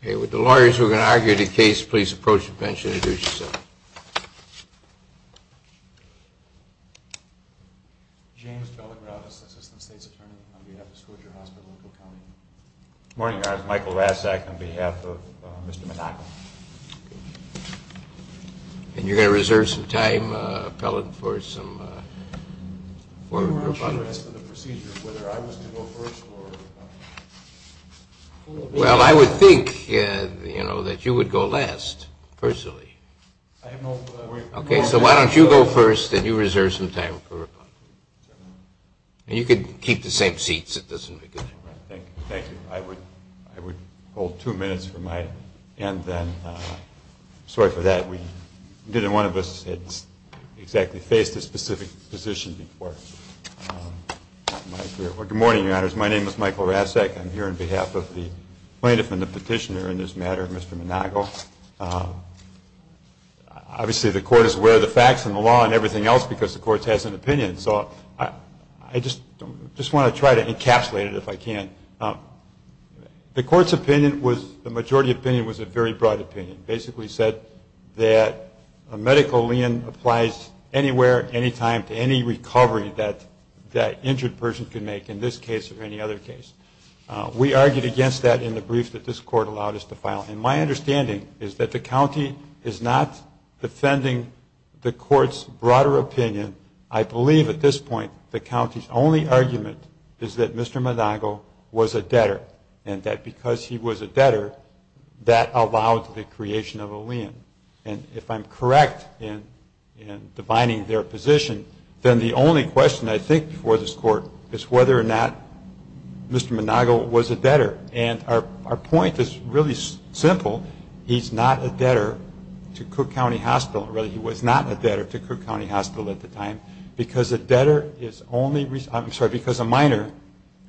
Okay, would the lawyers who are going to argue the case please approach the bench and introduce yourself. James Bellagrata, Assistant State's Attorney on behalf of Scotia Hospital, Oakville County. Good morning, Your Honor. It's Michael Rassak on behalf of Mr. Manago. And you're going to reserve some time, appellate, for some formal questions. Your Honor, I'm interested in the procedure, whether I was to go first or... Well, I would think, you know, that you would go last, personally. I have no... Okay, so why don't you go first and you reserve some time for... And you could keep the same seats, it doesn't make a difference. Thank you. I would hold two minutes for my end then. Sorry for that. Neither one of us had exactly faced a specific position before. Good morning, Your Honors. My name is Michael Rassak. I'm here on behalf of the plaintiff and the petitioner in this matter, Mr. Manago. Obviously, the court is aware of the facts and the law and everything else because the court has an opinion. So I just want to try to encapsulate it if I can. The court's opinion was, the majority opinion was a very broad opinion. It basically said that a medical lien applies anywhere, anytime, to any recovery that an injured person can make, in this case or any other case. We argued against that in the brief that this court allowed us to file. And my understanding is that the county is not defending the court's broader opinion. I believe, at this point, the county's only argument is that Mr. Manago was a debtor and that because he was a debtor, that allowed the creation of a lien. And if I'm correct in defining their position, then the only question I think for this court is whether or not Mr. Manago was a debtor. And our point is really simple. He's not a debtor to Cook County Hospital, or rather he was not a debtor to Cook County Hospital at the time, because a minor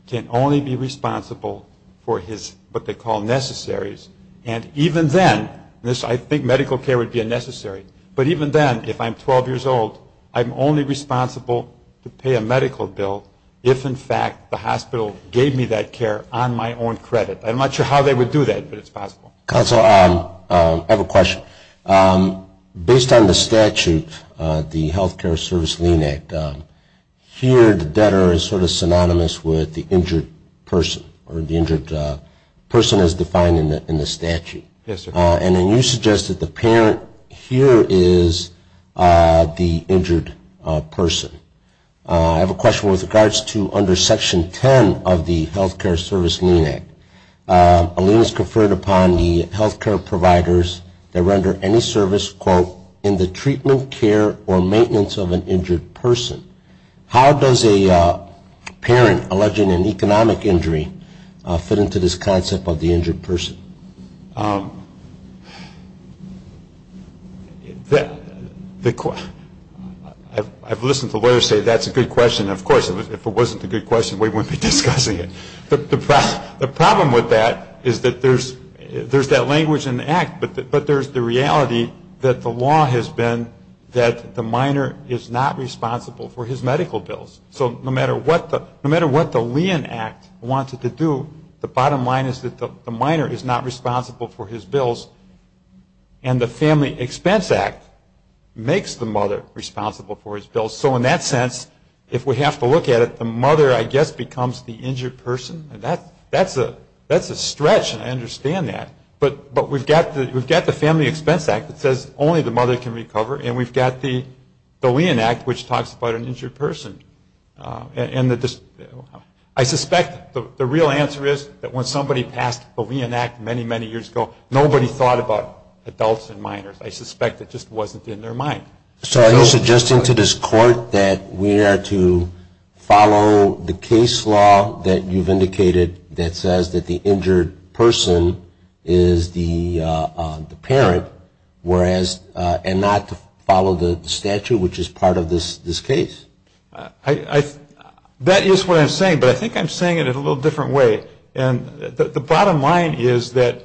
can only be responsible for what they call necessaries. And even then, I think medical care would be a necessary, but even then, if I'm 12 years old, I'm only responsible to pay a medical bill if, in fact, the hospital gave me that care on my own credit. I'm not sure how they would do that, but it's possible. Counsel, I have a question. Based on the statute, the Health Care Service Lien Act, here the debtor is sort of synonymous with the injured person or the injured person as defined in the statute. Yes, sir. And then you suggest that the parent here is the injured person. I have a question with regards to under Section 10 of the Health Care Service Lien Act, a lien is conferred upon the health care providers that render any service, quote, in the treatment, care, or maintenance of an injured person. How does a parent alleging an economic injury fit into this concept of the injured person? I've listened to lawyers say that's a good question. Of course, if it wasn't a good question, we wouldn't be discussing it. The problem with that is that there's that language in the act, but there's the reality that the law has been that the minor is not responsible for his medical bills. So no matter what the Lien Act wants it to do, the bottom line is that the minor is not responsible for his bills, and the Family Expense Act makes the mother responsible for his bills. So in that sense, if we have to look at it, the mother, I guess, becomes the injured person. That's a stretch, and I understand that. But we've got the Family Expense Act that says only the mother can recover, and we've got the Lien Act which talks about an injured person. I suspect the real answer is that when somebody passed the Lien Act many, many years ago, nobody thought about adults and minors. I suspect it just wasn't in their mind. So are you suggesting to this court that we are to follow the case law that you've indicated that says that the injured person is the parent, and not to follow the statute which is part of this case? That is what I'm saying, but I think I'm saying it in a little different way. The bottom line is that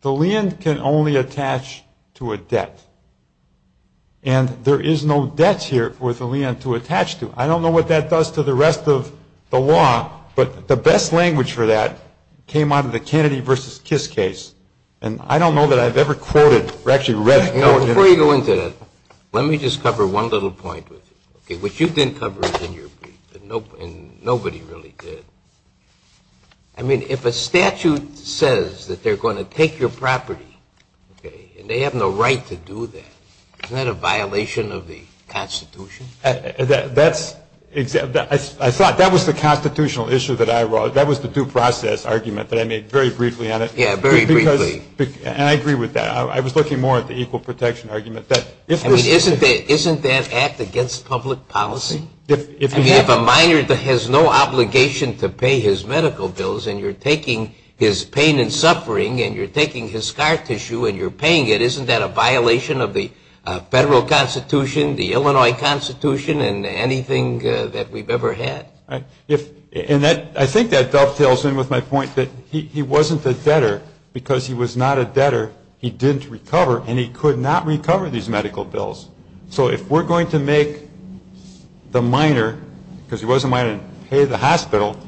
the lien can only attach to a debt, and there is no debt here for the lien to attach to. I don't know what that does to the rest of the law, but the best language for that came out of the Kennedy v. Kiss case, and I don't know that I've ever quoted or actually read it. Before you go into that, let me just cover one little point with you, which you didn't cover in your brief, and nobody really did. I mean, if a statute says that they're going to take your property, and they have no right to do that, isn't that a violation of the Constitution? I thought that was the constitutional issue that I wrote. That was the due process argument that I made very briefly on it. Yes, very briefly. And I agree with that. I was looking more at the equal protection argument. I mean, isn't that act against public policy? I mean, if a minor has no obligation to pay his medical bills, and you're taking his pain and suffering, and you're taking his scar tissue and you're paying it, isn't that a violation of the federal Constitution, the Illinois Constitution, and anything that we've ever had? I think that dovetails in with my point that he wasn't a debtor because he was not a debtor. He didn't recover, and he could not recover these medical bills. So if we're going to make the minor, because he was a minor, pay the hospital,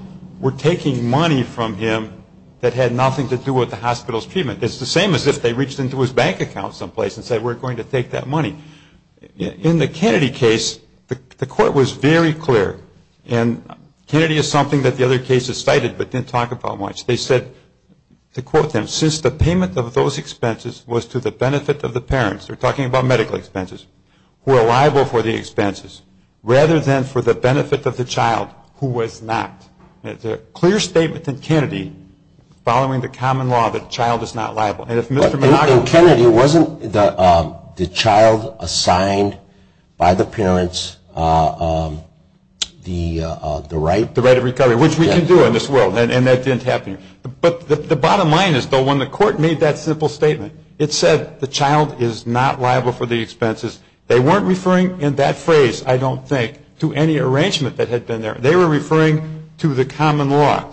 we're taking money from him that had nothing to do with the hospital's treatment. It's the same as if they reached into his bank account someplace and said we're going to take that money. In the Kennedy case, the court was very clear, and Kennedy is something that the other cases cited but didn't talk about much. They said, to quote them, since the payment of those expenses was to the benefit of the parents, they're talking about medical expenses, who are liable for the expenses rather than for the benefit of the child who was not. It's a clear statement in Kennedy following the common law that the child is not liable. And if Mr. McGregor – But in Kennedy, wasn't the child assigned by the parents the right – But the bottom line is, though, when the court made that simple statement, it said the child is not liable for the expenses. They weren't referring in that phrase, I don't think, to any arrangement that had been there. They were referring to the common law,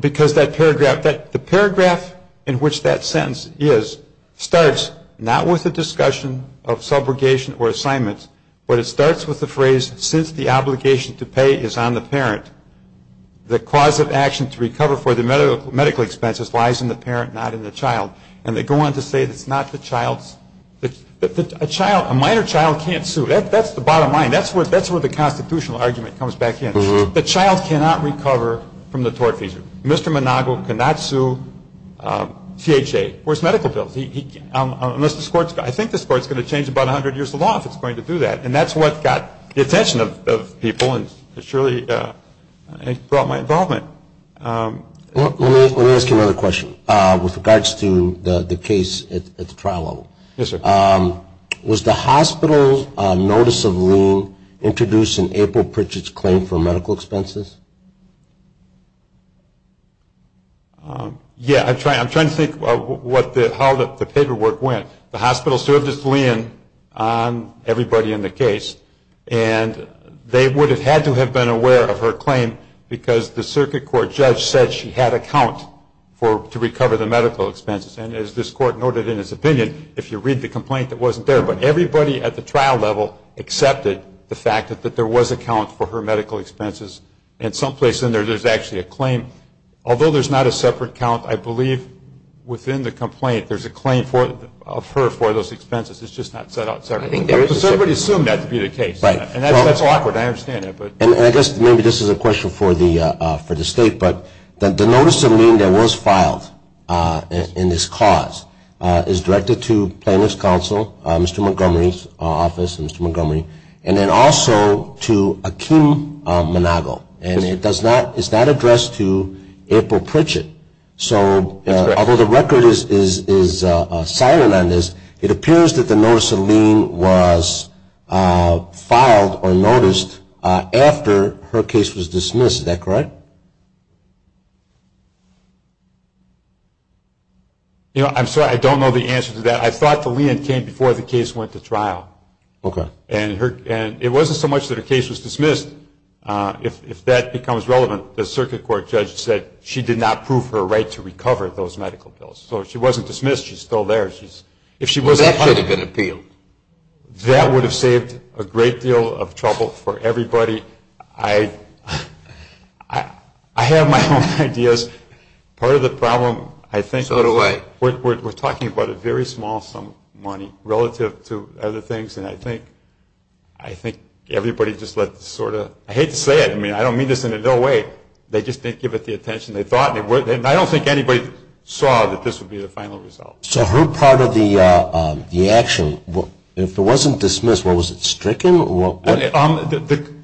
because that paragraph – the paragraph in which that sentence is starts not with a discussion of subrogation or assignment, but it starts with the phrase, since the obligation to pay is on the parent, the cause of action to recover for the medical expenses lies in the parent, not in the child. And they go on to say it's not the child's – A minor child can't sue. That's the bottom line. That's where the constitutional argument comes back in. The child cannot recover from the tort feature. Mr. Monago cannot sue THA. Where's medical bills? I think this court's going to change about 100 years of law if it's going to do that. And that's what got the attention of people and surely brought my involvement. Let me ask you another question with regards to the case at the trial level. Yes, sir. Was the hospital's notice of lien introduced in April Pritchett's claim for medical expenses? Yeah, I'm trying to think how the paperwork went. The hospital served its lien on everybody in the case, and they would have had to have been aware of her claim because the circuit court judge said she had a count to recover the medical expenses. And as this court noted in its opinion, if you read the complaint, it wasn't there. But everybody at the trial level accepted the fact that there was a count for her medical expenses, and someplace in there there's actually a claim. Although there's not a separate count, I believe within the complaint there's a claim of her for those expenses. It's just not set out separately. I think there is a separate count. But somebody assumed that to be the case. Right. And that's awkward. I understand that. And I guess maybe this is a question for the State, but the notice of lien that was filed in this cause is directed to Plaintiff's Counsel, Mr. Montgomery's office, Mr. Montgomery, and then also to Akeem Manago. And it's not addressed to April Pritchett. So although the record is silent on this, it appears that the notice of lien was filed or noticed after her case was dismissed. Is that correct? You know, I'm sorry. I don't know the answer to that. I thought the lien came before the case went to trial. And it wasn't so much that her case was dismissed. If that becomes relevant, the circuit court judge said she did not prove her right to recover those medical bills. So she wasn't dismissed. She's still there. If she wasn't, that would have saved a great deal of trouble for everybody. I have my own ideas. Part of the problem, I think, is we're talking about a very small sum of money relative to other things. And I think everybody just let the sort of – I hate to say it. I mean, I don't mean this in a dull way. They just didn't give it the attention they thought they would. And I don't think anybody saw that this would be the final result. So her part of the action, if it wasn't dismissed, was it stricken? The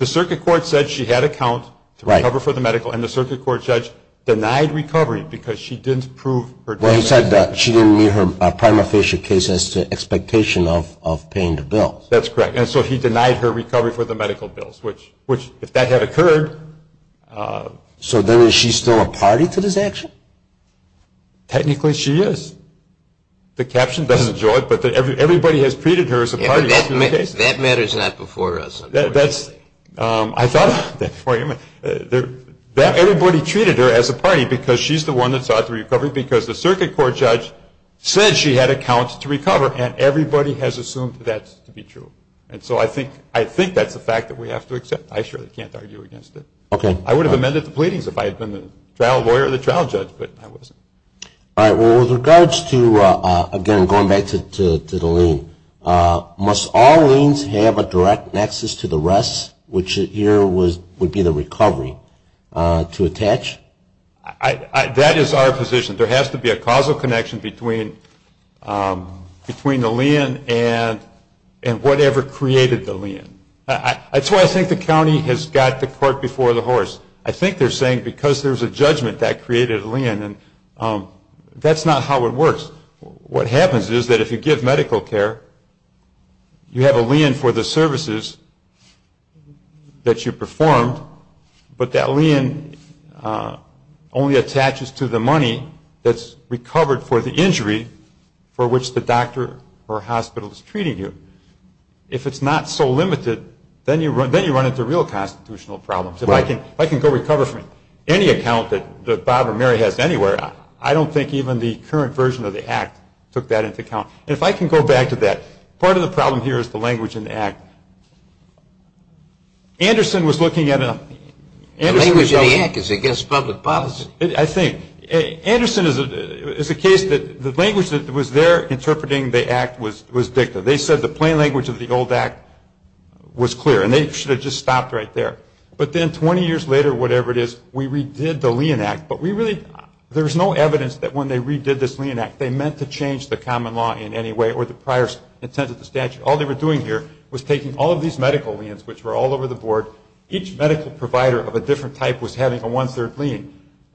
circuit court said she had a count to recover for the medical. And the circuit court judge denied recovery because she didn't prove her case. You said she didn't meet her prima facie case as to expectation of paying the bill. That's correct. And so he denied her recovery for the medical bills, which if that had occurred – So then is she still a party to this action? Technically, she is. The caption doesn't show it, but everybody has treated her as a party. That matter is not before us. That's – I thought – everybody treated her as a party because she's the one that sought the recovery because the circuit court judge said she had a count to recover, and everybody has assumed that to be true. And so I think that's a fact that we have to accept. I surely can't argue against it. I would have amended the pleadings if I had been the trial lawyer or the trial judge, but I wasn't. All right. Well, with regards to, again, going back to the lien, must all liens have a direct nexus to the rest, which here would be the recovery, to attach? That is our position. There has to be a causal connection between the lien and whatever created the lien. That's why I think the county has got the court before the horse. I think they're saying because there's a judgment that created a lien, and that's not how it works. What happens is that if you give medical care, you have a lien for the services that you performed, but that lien only attaches to the money that's recovered for the injury for which the doctor or hospital is treating you. If it's not so limited, then you run into real constitutional problems. If I can go recover from any account that Bob or Mary has anywhere, I don't think even the current version of the Act took that into account. And if I can go back to that, part of the problem here is the language in the Act. Anderson was looking at it. The language in the Act is against public policy. I think. Anderson is a case that the language that was there interpreting the Act was dicta. They said the plain language of the old Act was clear, and they should have just stopped right there. But then 20 years later, whatever it is, we redid the lien Act. But there's no evidence that when they redid this lien Act, they meant to change the common law in any way or the prior intent of the statute. All they were doing here was taking all of these medical liens, which were all over the board, each medical provider of a different type was having a one-third lien.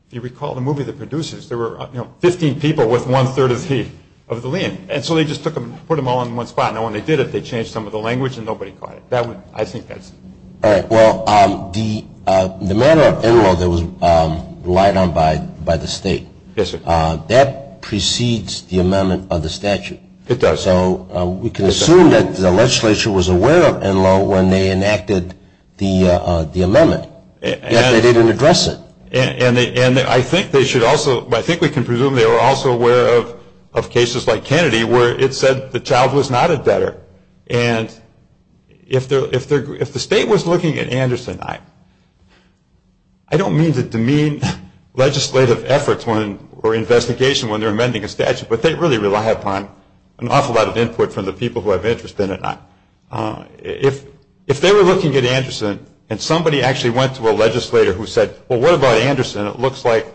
If you recall the movie The Producers, there were 15 people with one-third of the lien. And so they just put them all in one spot. Now, when they did it, they changed some of the language, and nobody caught it. I think that's it. All right. Well, the manner of enrollment that was relied on by the State, that precedes the amendment of the statute. It does. So we can assume that the legislature was aware of enrollment when they enacted the amendment. Yet they didn't address it. And I think they should also, I think we can presume they were also aware of cases like Kennedy where it said the child was not a debtor. And if the State was looking at Anderson, I don't mean to demean legislative efforts or investigation when they're amending a statute, but they really rely upon an awful lot of input from the people who have interest in it. If they were looking at Anderson and somebody actually went to a legislator who said, well, what about Anderson? It looks like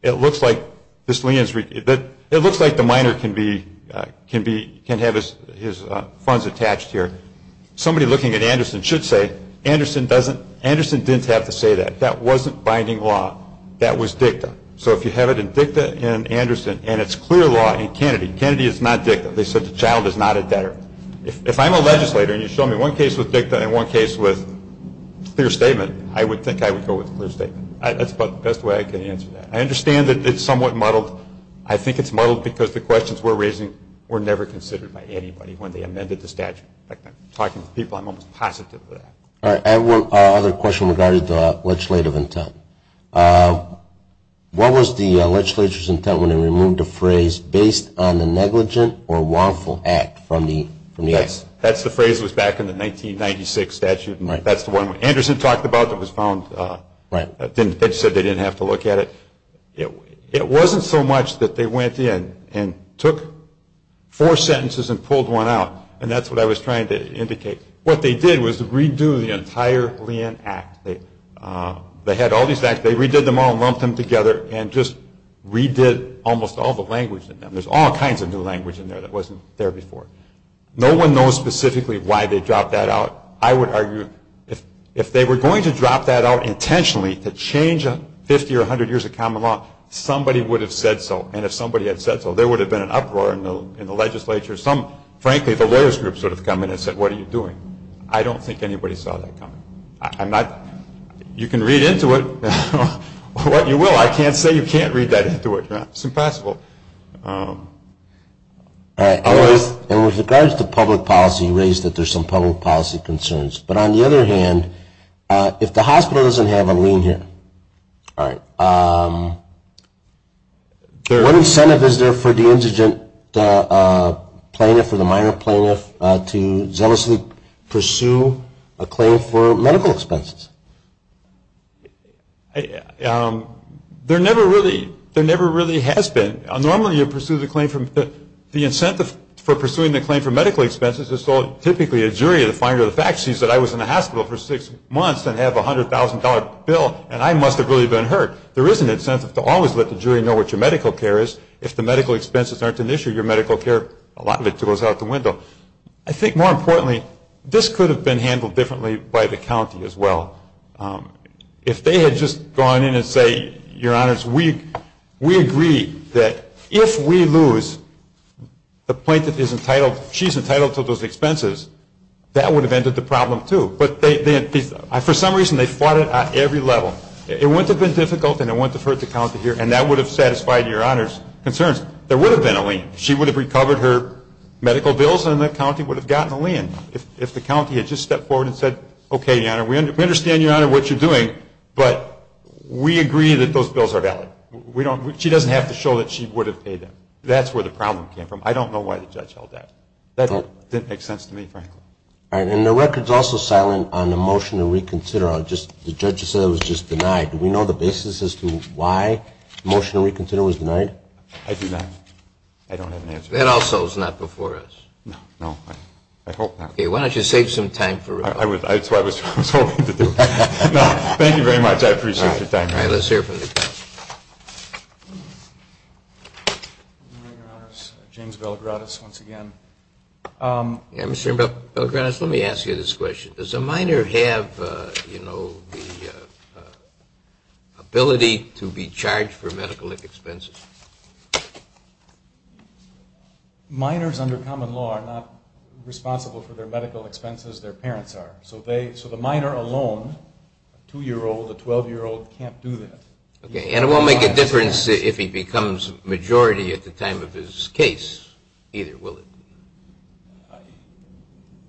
the minor can have his funds attached here. Somebody looking at Anderson should say, Anderson didn't have to say that. That wasn't binding law. That was dicta. So if you have it in dicta in Anderson and it's clear law in Kennedy, Kennedy is not dicta. They said the child is not a debtor. If I'm a legislator and you show me one case with dicta and one case with clear statement, I would think I would go with clear statement. That's about the best way I can answer that. I understand that it's somewhat muddled. I think it's muddled because the questions we're raising were never considered by anybody when they amended the statute. In fact, I'm talking to people, I'm almost positive of that. Another question regarding the legislative intent. What was the legislature's intent when they removed the phrase, based on the negligent or wrongful act from the act? That's the phrase that was back in the 1996 statute. That's the one Anderson talked about that was found. It said they didn't have to look at it. It wasn't so much that they went in and took four sentences and pulled one out, and that's what I was trying to indicate. What they did was redo the entire Leanne Act. They had all these acts. They redid them all and lumped them together and just redid almost all the language in them. There's all kinds of new language in there that wasn't there before. No one knows specifically why they dropped that out. I would argue if they were going to drop that out intentionally to change 50 or 100 years of common law, somebody would have said so, and if somebody had said so, there would have been an uproar in the legislature. Some, frankly, the lawyers group would have come in and said, what are you doing? I don't think anybody saw that coming. You can read into it what you will. I can't say you can't read that into it. It's impossible. And with regards to public policy, you raised that there's some public policy concerns. But on the other hand, if the hospital doesn't have a lien here, All right. What incentive is there for the indigent plaintiff or the minor plaintiff to zealously pursue a claim for medical expenses? There never really has been. Normally you pursue the claim for the incentive for pursuing the claim for medical expenses. It's typically a jury that finds out the fact. She said I was in the hospital for six months and have a $100,000 bill and I must have really been hurt. There is an incentive to always let the jury know what your medical care is. If the medical expenses aren't an issue, your medical care, a lot of it goes out the window. I think more importantly, this could have been handled differently by the county as well. If they had just gone in and said, Your Honors, we agree that if we lose, the plaintiff is entitled, she's entitled to those expenses, that would have ended the problem too. But for some reason they fought it at every level. It wouldn't have been difficult and it wouldn't have hurt the county here and that would have satisfied Your Honor's concerns. There would have been a lien. She would have recovered her medical bills and the county would have gotten a lien. If the county had just stepped forward and said, Okay, Your Honor, we understand, Your Honor, what you're doing, but we agree that those bills are valid. She doesn't have to show that she would have paid them. That's where the problem came from. I don't know why the judge held that. That didn't make sense to me, frankly. And the record is also silent on the motion to reconsider. The judge said it was just denied. Do we know the basis as to why the motion to reconsider was denied? I do not. I don't have an answer. That also is not before us. No. I hope not. Why don't you save some time for it? That's what I was hoping to do. Thank you very much. I appreciate your time. Let's hear from the judge. Good morning, Your Honor. James Belgradis once again. Mr. Belgradis, let me ask you this question. Does a minor have the ability to be charged for medical expenses? Minors under common law are not responsible for their medical expenses. Their parents are. So the minor alone, a 2-year-old, a 12-year-old, can't do that. Okay. And it won't make a difference if he becomes a majority at the time of his case, either, will it?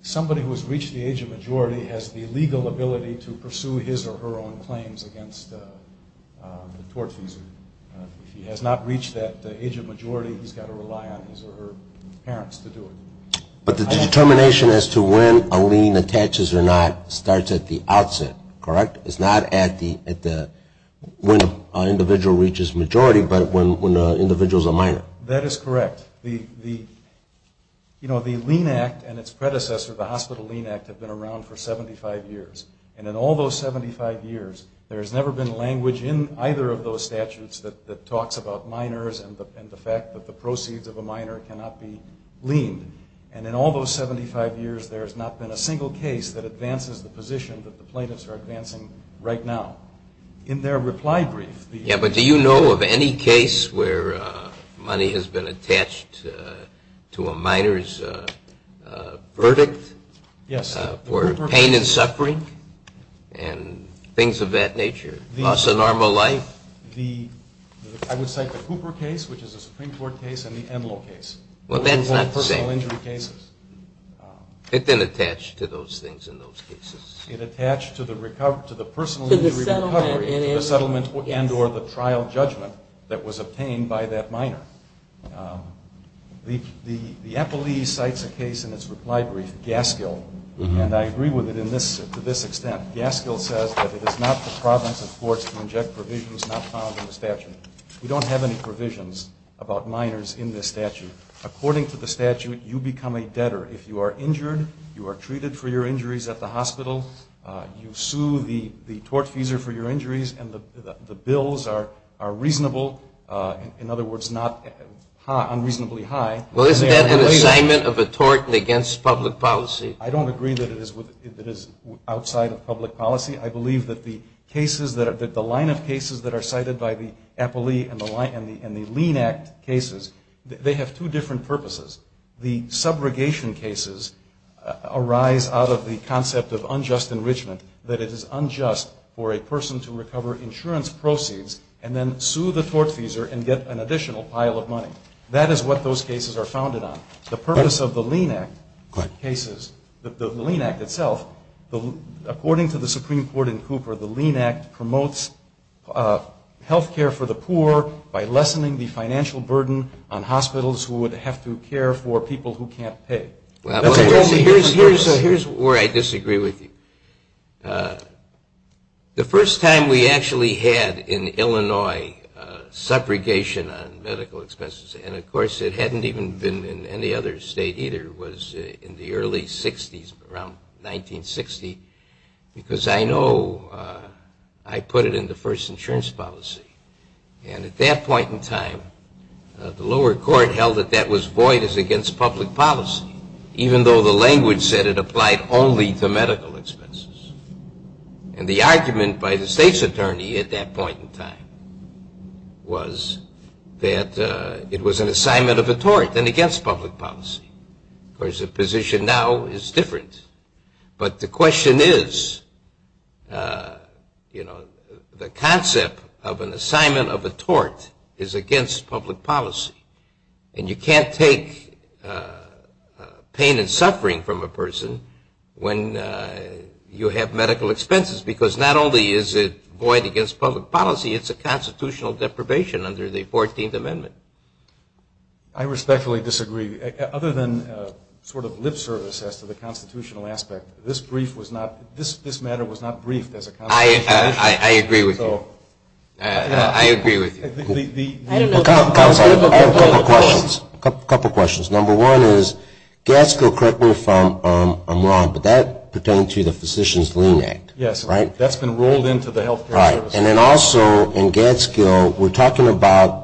Somebody who has reached the age of majority has the legal ability to pursue his or her own claims against the tortfeasor. If he has not reached that age of majority, he's got to rely on his or her parents to do it. But the determination as to when a lien attaches or not starts at the outset, correct? It's not when an individual reaches majority but when the individual is a minor. That is correct. You know, the Lien Act and its predecessor, the Hospital Lien Act, have been around for 75 years. And in all those 75 years, there has never been language in either of those statutes that talks about minors and the fact that the proceeds of a minor cannot be liened. And in all those 75 years, there has not been a single case that advances the position that the plaintiffs are advancing right now. In their reply brief, the- Yeah, but do you know of any case where money has been attached to a minor's verdict? Yes. For pain and suffering and things of that nature? Loss of normal life? I would say the Cooper case, which is a Supreme Court case, and the Enloe case. Well, that's not the same. Both personal injury cases. It didn't attach to those things in those cases. It attached to the personal injury recovery. To the settlement. To the settlement and or the trial judgment that was obtained by that minor. The NLE cites a case in its reply brief, Gaskell, and I agree with it to this extent. Gaskell says that it is not the province of courts to inject provisions not found in the statute. We don't have any provisions about minors in this statute. According to the statute, you become a debtor if you are injured, you are treated for your injuries at the hospital, you sue the tortfeasor for your injuries, and the bills are reasonable. In other words, not unreasonably high. Well, isn't that an assignment of a tort against public policy? I don't agree that it is outside of public policy. I believe that the cases that are-the line of cases that are cited by the Appalee and the Lean Act cases, they have two different purposes. The subrogation cases arise out of the concept of unjust enrichment, that it is unjust for a person to recover insurance proceeds and then sue the tortfeasor and get an additional pile of money. That is what those cases are founded on. The purpose of the Lean Act cases, the Lean Act itself, according to the Supreme Court in Cooper, the Lean Act promotes health care for the poor by lessening the financial burden on hospitals who would have to care for people who can't pay. Here's where I disagree with you. The first time we actually had in Illinois subrogation on medical expenses, and of course it hadn't even been in any other state either, was in the early 60s, around 1960, because I know I put it in the first insurance policy. And at that point in time, the lower court held that that was void as against public policy, even though the language said it applied only to medical expenses. And the argument by the state's attorney at that point in time was that it was an assignment of a tort and against public policy. Of course, the position now is different. But the question is, you know, the concept of an assignment of a tort is against public policy. And you can't take pain and suffering from a person when you have medical expenses, because not only is it void against public policy, it's a constitutional deprivation under the 14th Amendment. I respectfully disagree. Other than sort of lip service as to the constitutional aspect, this brief was not, this matter was not briefed as a constitutional matter. I agree with you. I agree with you. I have a couple of questions. A couple of questions. Number one is, Gadskill, correct me if I'm wrong, but that pertains to the Physician's Lien Act, right? Yes. That's been rolled into the health care service. Right. And then also in Gadskill, we're talking about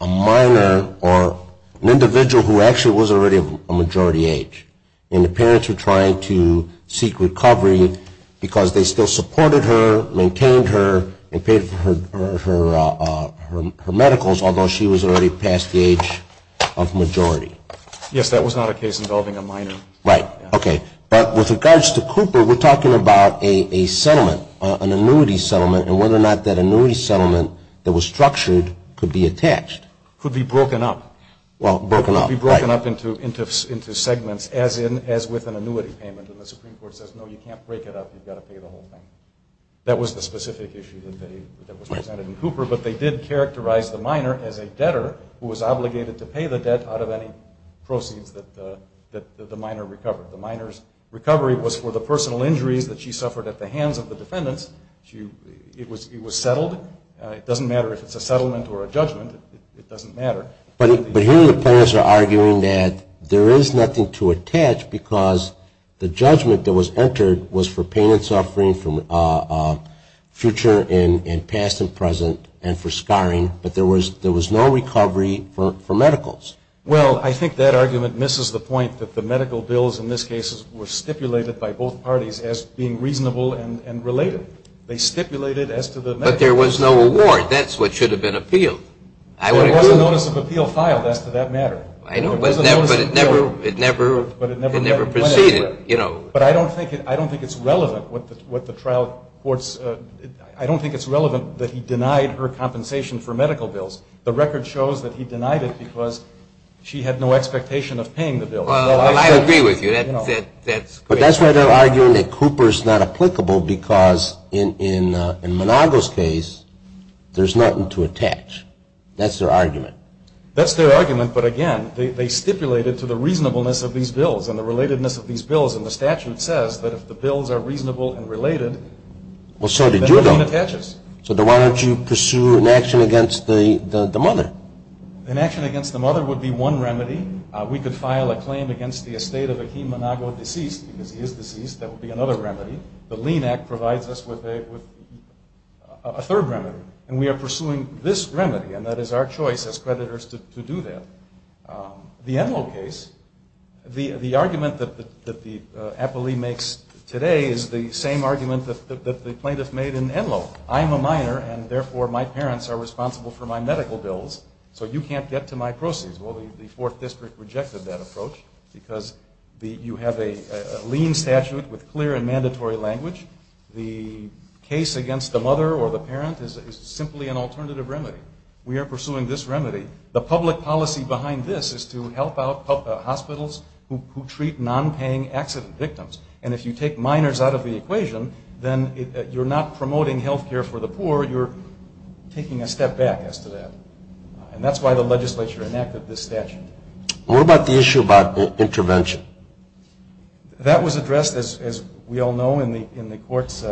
a minor or an individual who actually was already of a majority age. And the parents were trying to seek recovery because they still supported her, maintained her, and paid for her medicals, although she was already past the age of majority. Yes, that was not a case involving a minor. Right. Okay. But with regards to Cooper, we're talking about a settlement, an annuity settlement, and whether or not that annuity settlement that was structured could be attached. Could be broken up. Well, broken up, right. Could be broken up into segments, as with an annuity payment. And the Supreme Court says, no, you can't break it up. You've got to pay the whole thing. That was the specific issue that was presented in Cooper, but they did characterize the minor as a debtor who was obligated to pay the debt out of any proceeds that the minor recovered. The minor's recovery was for the personal injuries that she suffered at the hands of the defendants. It was settled. It doesn't matter if it's a settlement or a judgment. It doesn't matter. But here the parents are arguing that there is nothing to attach because the judgment that was entered was for pain and suffering from future and past and present and for scarring, but there was no recovery for medicals. Well, I think that argument misses the point that the medical bills, in this case, were stipulated by both parties as being reasonable and related. They stipulated as to the medical bills. But there was no award. That's what should have been appealed. There was a notice of appeal filed as to that matter. I know, but it never proceeded. But I don't think it's relevant what the trial courts – I don't think it's relevant that he denied her compensation for medical bills. The record shows that he denied it because she had no expectation of paying the bill. Well, I agree with you. But that's why they're arguing that Cooper is not applicable because, in Monago's case, there's nothing to attach. That's their argument. That's their argument, but, again, they stipulated to the reasonableness of these bills and the relatedness of these bills. And the statute says that if the bills are reasonable and related, then the lien attaches. So then why don't you pursue an action against the mother? An action against the mother would be one remedy. We could file a claim against the estate of a Kim Monago deceased, because he is deceased. That would be another remedy. The lien act provides us with a third remedy. And we are pursuing this remedy, and that is our choice as creditors to do that. The Enloe case, the argument that the appellee makes today is the same argument that the plaintiff made in Enloe. I'm a minor, and, therefore, my parents are responsible for my medical bills, so you can't get to my proceeds. Well, the 4th District rejected that approach because you have a lien statute with clear and mandatory language. The case against the mother or the parent is simply an alternative remedy. We are pursuing this remedy. The public policy behind this is to help out hospitals who treat nonpaying accident victims. And if you take minors out of the equation, then you're not promoting health care for the poor. You're taking a step back as to that. And that's why the legislature enacted this statute. What about the issue about intervention? That was addressed, as we all know, in the court's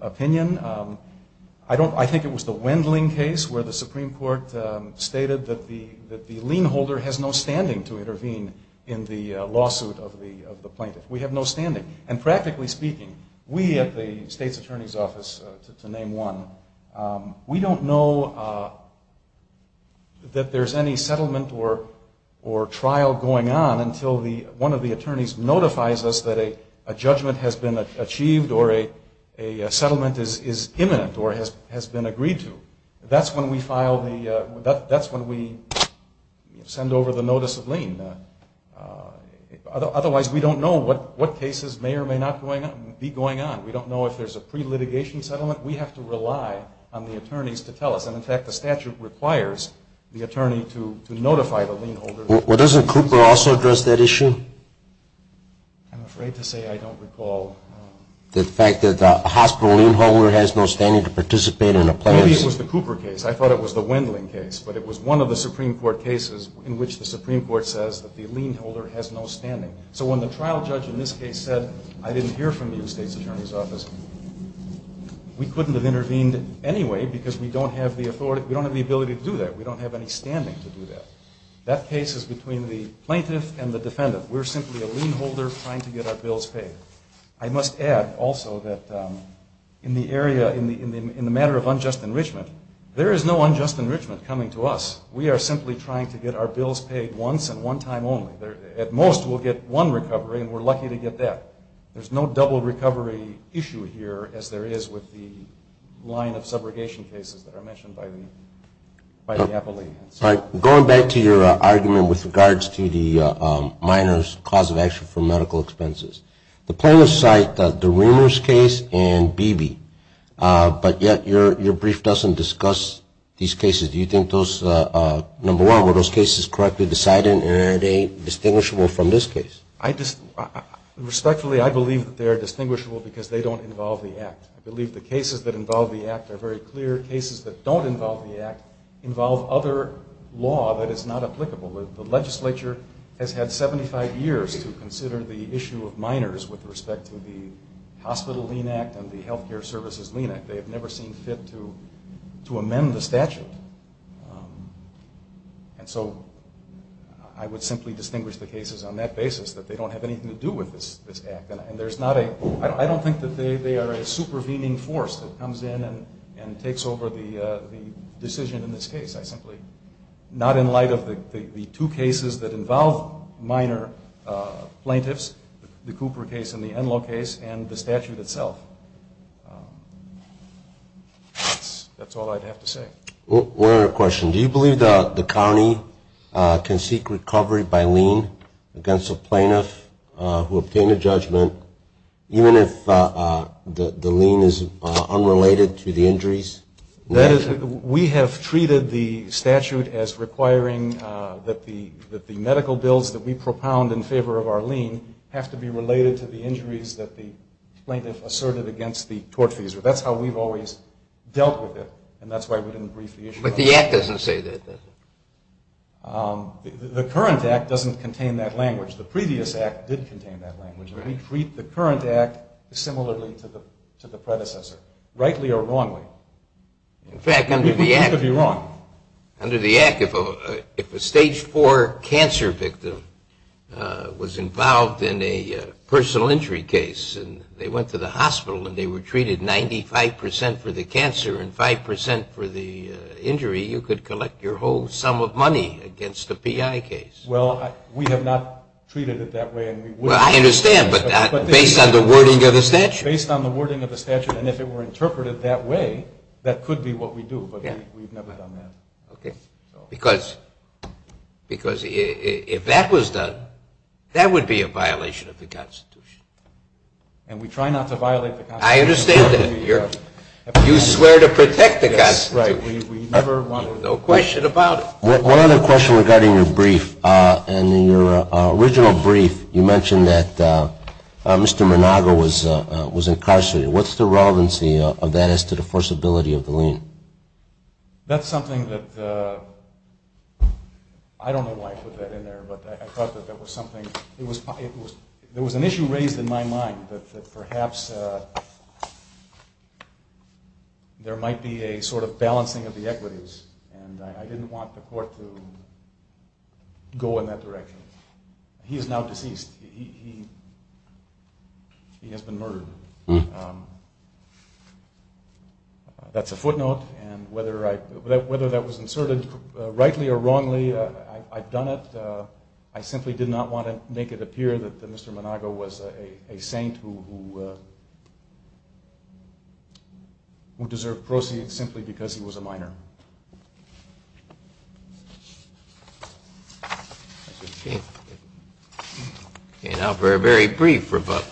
opinion. I think it was the Wendling case where the Supreme Court stated that the lien holder has no standing to intervene in the lawsuit of the plaintiff. We have no standing. And practically speaking, we at the state's attorney's office, to name one, we don't know that there's any settlement or trial going on until one of the attorneys notifies us that a judgment has been achieved or a settlement is imminent or has been agreed to. That's when we file the ‑‑ that's when we send over the notice of lien. Otherwise, we don't know what cases may or may not be going on. We don't know if there's a pre-litigation settlement. We have to rely on the attorneys to tell us. And, in fact, the statute requires the attorney to notify the lien holder. Well, doesn't Cooper also address that issue? I'm afraid to say I don't recall. The fact that the hospital lien holder has no standing to participate in a plaintiff's ‑‑ Maybe it was the Cooper case. I thought it was the Wendling case. But it was one of the Supreme Court cases in which the Supreme Court says that the lien holder has no standing. So when the trial judge in this case said, I didn't hear from you, state's attorney's office, we couldn't have intervened anyway because we don't have the authority ‑‑ we don't have the ability to do that. We don't have any standing to do that. That case is between the plaintiff and the defendant. We're simply a lien holder trying to get our bills paid. I must add, also, that in the area, in the matter of unjust enrichment, there is no unjust enrichment coming to us. We are simply trying to get our bills paid once and one time only. At most we'll get one recovery, and we're lucky to get that. There's no double recovery issue here as there is with the line of subrogation cases that are mentioned by the appellee. Going back to your argument with regards to the minor's cause of action for medical expenses, the plaintiffs cite the Reimers case and Beebe. But yet your brief doesn't discuss these cases. Do you think those, number one, were those cases correctly decided and are they distinguishable from this case? Respectfully, I believe that they are distinguishable because they don't involve the act. I believe the cases that involve the act are very clear. The clear cases that don't involve the act involve other law that is not applicable. The legislature has had 75 years to consider the issue of minors with respect to the Hospital Lien Act and the Health Care Services Lien Act. They have never seen fit to amend the statute. And so I would simply distinguish the cases on that basis, that they don't have anything to do with this act. I don't think that they are a supervening force that comes in and takes over the decision in this case. I simply, not in light of the two cases that involve minor plaintiffs, the Cooper case and the Enloe case, and the statute itself. That's all I'd have to say. One other question. Do you believe the county can seek recovery by lien against a plaintiff who obtained a judgment, even if the lien is unrelated to the injuries? We have treated the statute as requiring that the medical bills that we propound in favor of our lien have to be related to the injuries that the plaintiff asserted against the tortfeasor. That's how we've always dealt with it, and that's why we didn't brief the issue. But the act doesn't say that, does it? The current act doesn't contain that language. The previous act did contain that language. We treat the current act similarly to the predecessor, rightly or wrongly. We could be wrong. Under the act, if a stage four cancer victim was involved in a personal injury case and they went to the hospital and they were treated 95% for the cancer and 5% for the injury, you could collect your whole sum of money against a PI case. Well, we have not treated it that way. Well, I understand, but based on the wording of the statute. Based on the wording of the statute, and if it were interpreted that way, that could be what we do, but we've never done that. Because if that was done, that would be a violation of the Constitution. And we try not to violate the Constitution. I understand that. You swear to protect the Constitution. We never want to. No question about it. One other question regarding your brief. In your original brief, you mentioned that Mr. Monago was incarcerated. What's the relevancy of that as to the forcibility of the lien? That's something that I don't know why I put that in there, but I thought that there was something. There was an issue raised in my mind that perhaps there might be a sort of balancing of the equities, and I didn't want the court to go in that direction. He is now deceased. He has been murdered. That's a footnote, and whether that was inserted rightly or wrongly, I've done it. I simply did not want to make it appear that Mr. Monago was a saint who deserved proceeds simply because he was a minor. Okay, now for a very brief rebuttal.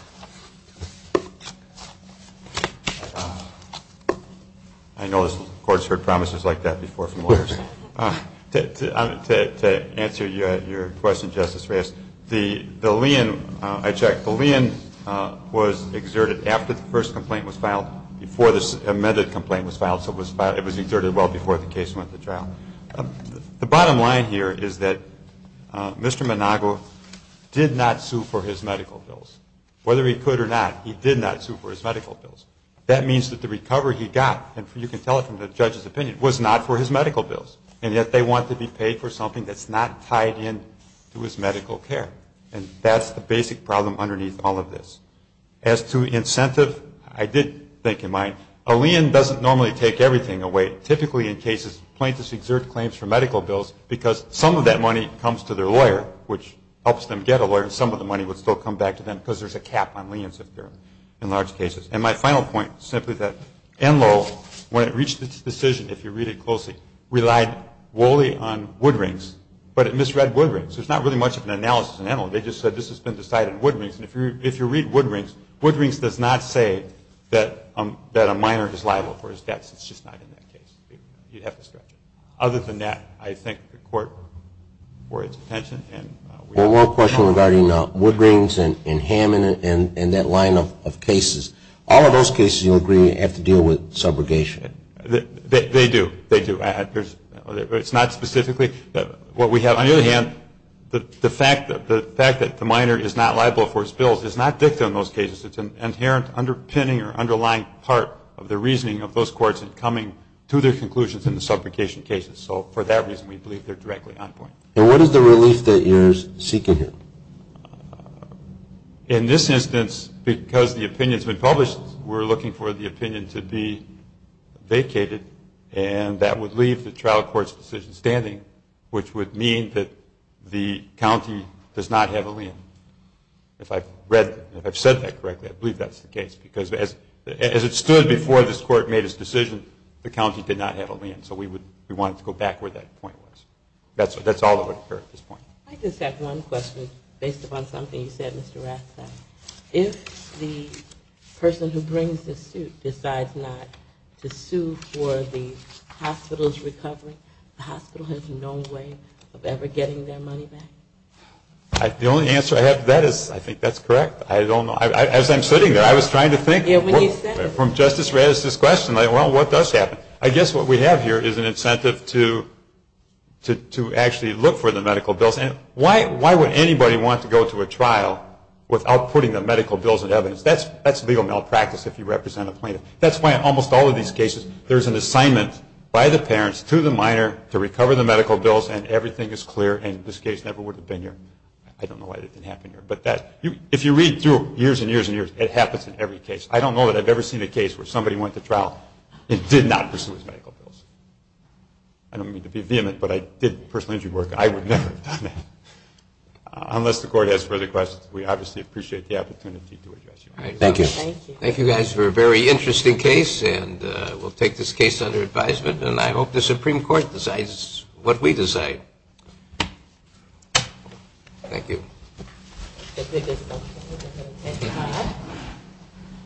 I know the court's heard promises like that before from lawyers. To answer your question, Justice Reyes, the lien, I checked, the lien was exerted after the first complaint was filed, before the amended complaint was filed. It was exerted well before the case went to trial. The bottom line here is that Mr. Monago did not sue for his medical bills. Whether he could or not, he did not sue for his medical bills. That means that the recovery he got, and you can tell it from the judge's opinion, was not for his medical bills, and yet they want to be paid for something that's not tied in to his medical care, and that's the basic problem underneath all of this. As to incentive, I did think in mind, a lien doesn't normally take everything away. Typically in cases, plaintiffs exert claims for medical bills because some of that money comes to their lawyer, which helps them get a lawyer, and some of the money would still come back to them because there's a cap on liens in large cases. And my final point, simply that Enloe, when it reached its decision, if you read it closely, relied wholly on wood rings, but it misread wood rings. There's not really much of an analysis in Enloe. They just said this has been decided in wood rings, and if you read wood rings, wood rings does not say that a minor is liable for his debts. It's just not in that case. You'd have to stretch it. Other than that, I thank the court for its attention. One more question regarding wood rings and Hammond and that line of cases. All of those cases, you agree, have to deal with subrogation. They do. They do. It's not specifically. On the other hand, the fact that the minor is not liable for his bills is not dicta in those cases. It's an inherent underpinning or underlying part of the reasoning of those courts in coming to their conclusions in the subrogation cases. So for that reason, we believe they're directly on point. And what is the relief that you're seeking here? In this instance, because the opinion has been published, we're looking for the opinion to be vacated, and that would leave the trial court's decision standing, which would mean that the county does not have a lien. If I've said that correctly, I believe that's the case, because as it stood before this court made its decision, the county did not have a lien. So we wanted to go back where that point was. That's all that would occur at this point. I just have one question based upon something you said, Mr. Rathstein. If the person who brings the suit decides not to sue for the hospital's recovery, the hospital has no way of ever getting their money back? The only answer I have to that is I think that's correct. I don't know. As I'm sitting there, I was trying to think from Justice Raddatz's question, like, well, what does happen? I guess what we have here is an incentive to actually look for the medical bills. Why would anybody want to go to a trial without putting the medical bills in evidence? That's legal malpractice if you represent a plaintiff. That's why in almost all of these cases there's an assignment by the parents to the minor to recover the medical bills, and everything is clear, and this case never would have been here. I don't know why that didn't happen here. If you read through years and years and years, it happens in every case. I don't know that I've ever seen a case where somebody went to trial and did not pursue his medical bills. I don't mean to be vehement, but I did personal injury work. I would never have done that. Unless the Court has further questions, we obviously appreciate the opportunity to address you. Thank you. Thank you, guys, for a very interesting case, and we'll take this case under advisement, and I hope the Supreme Court decides what we decide. Thank you.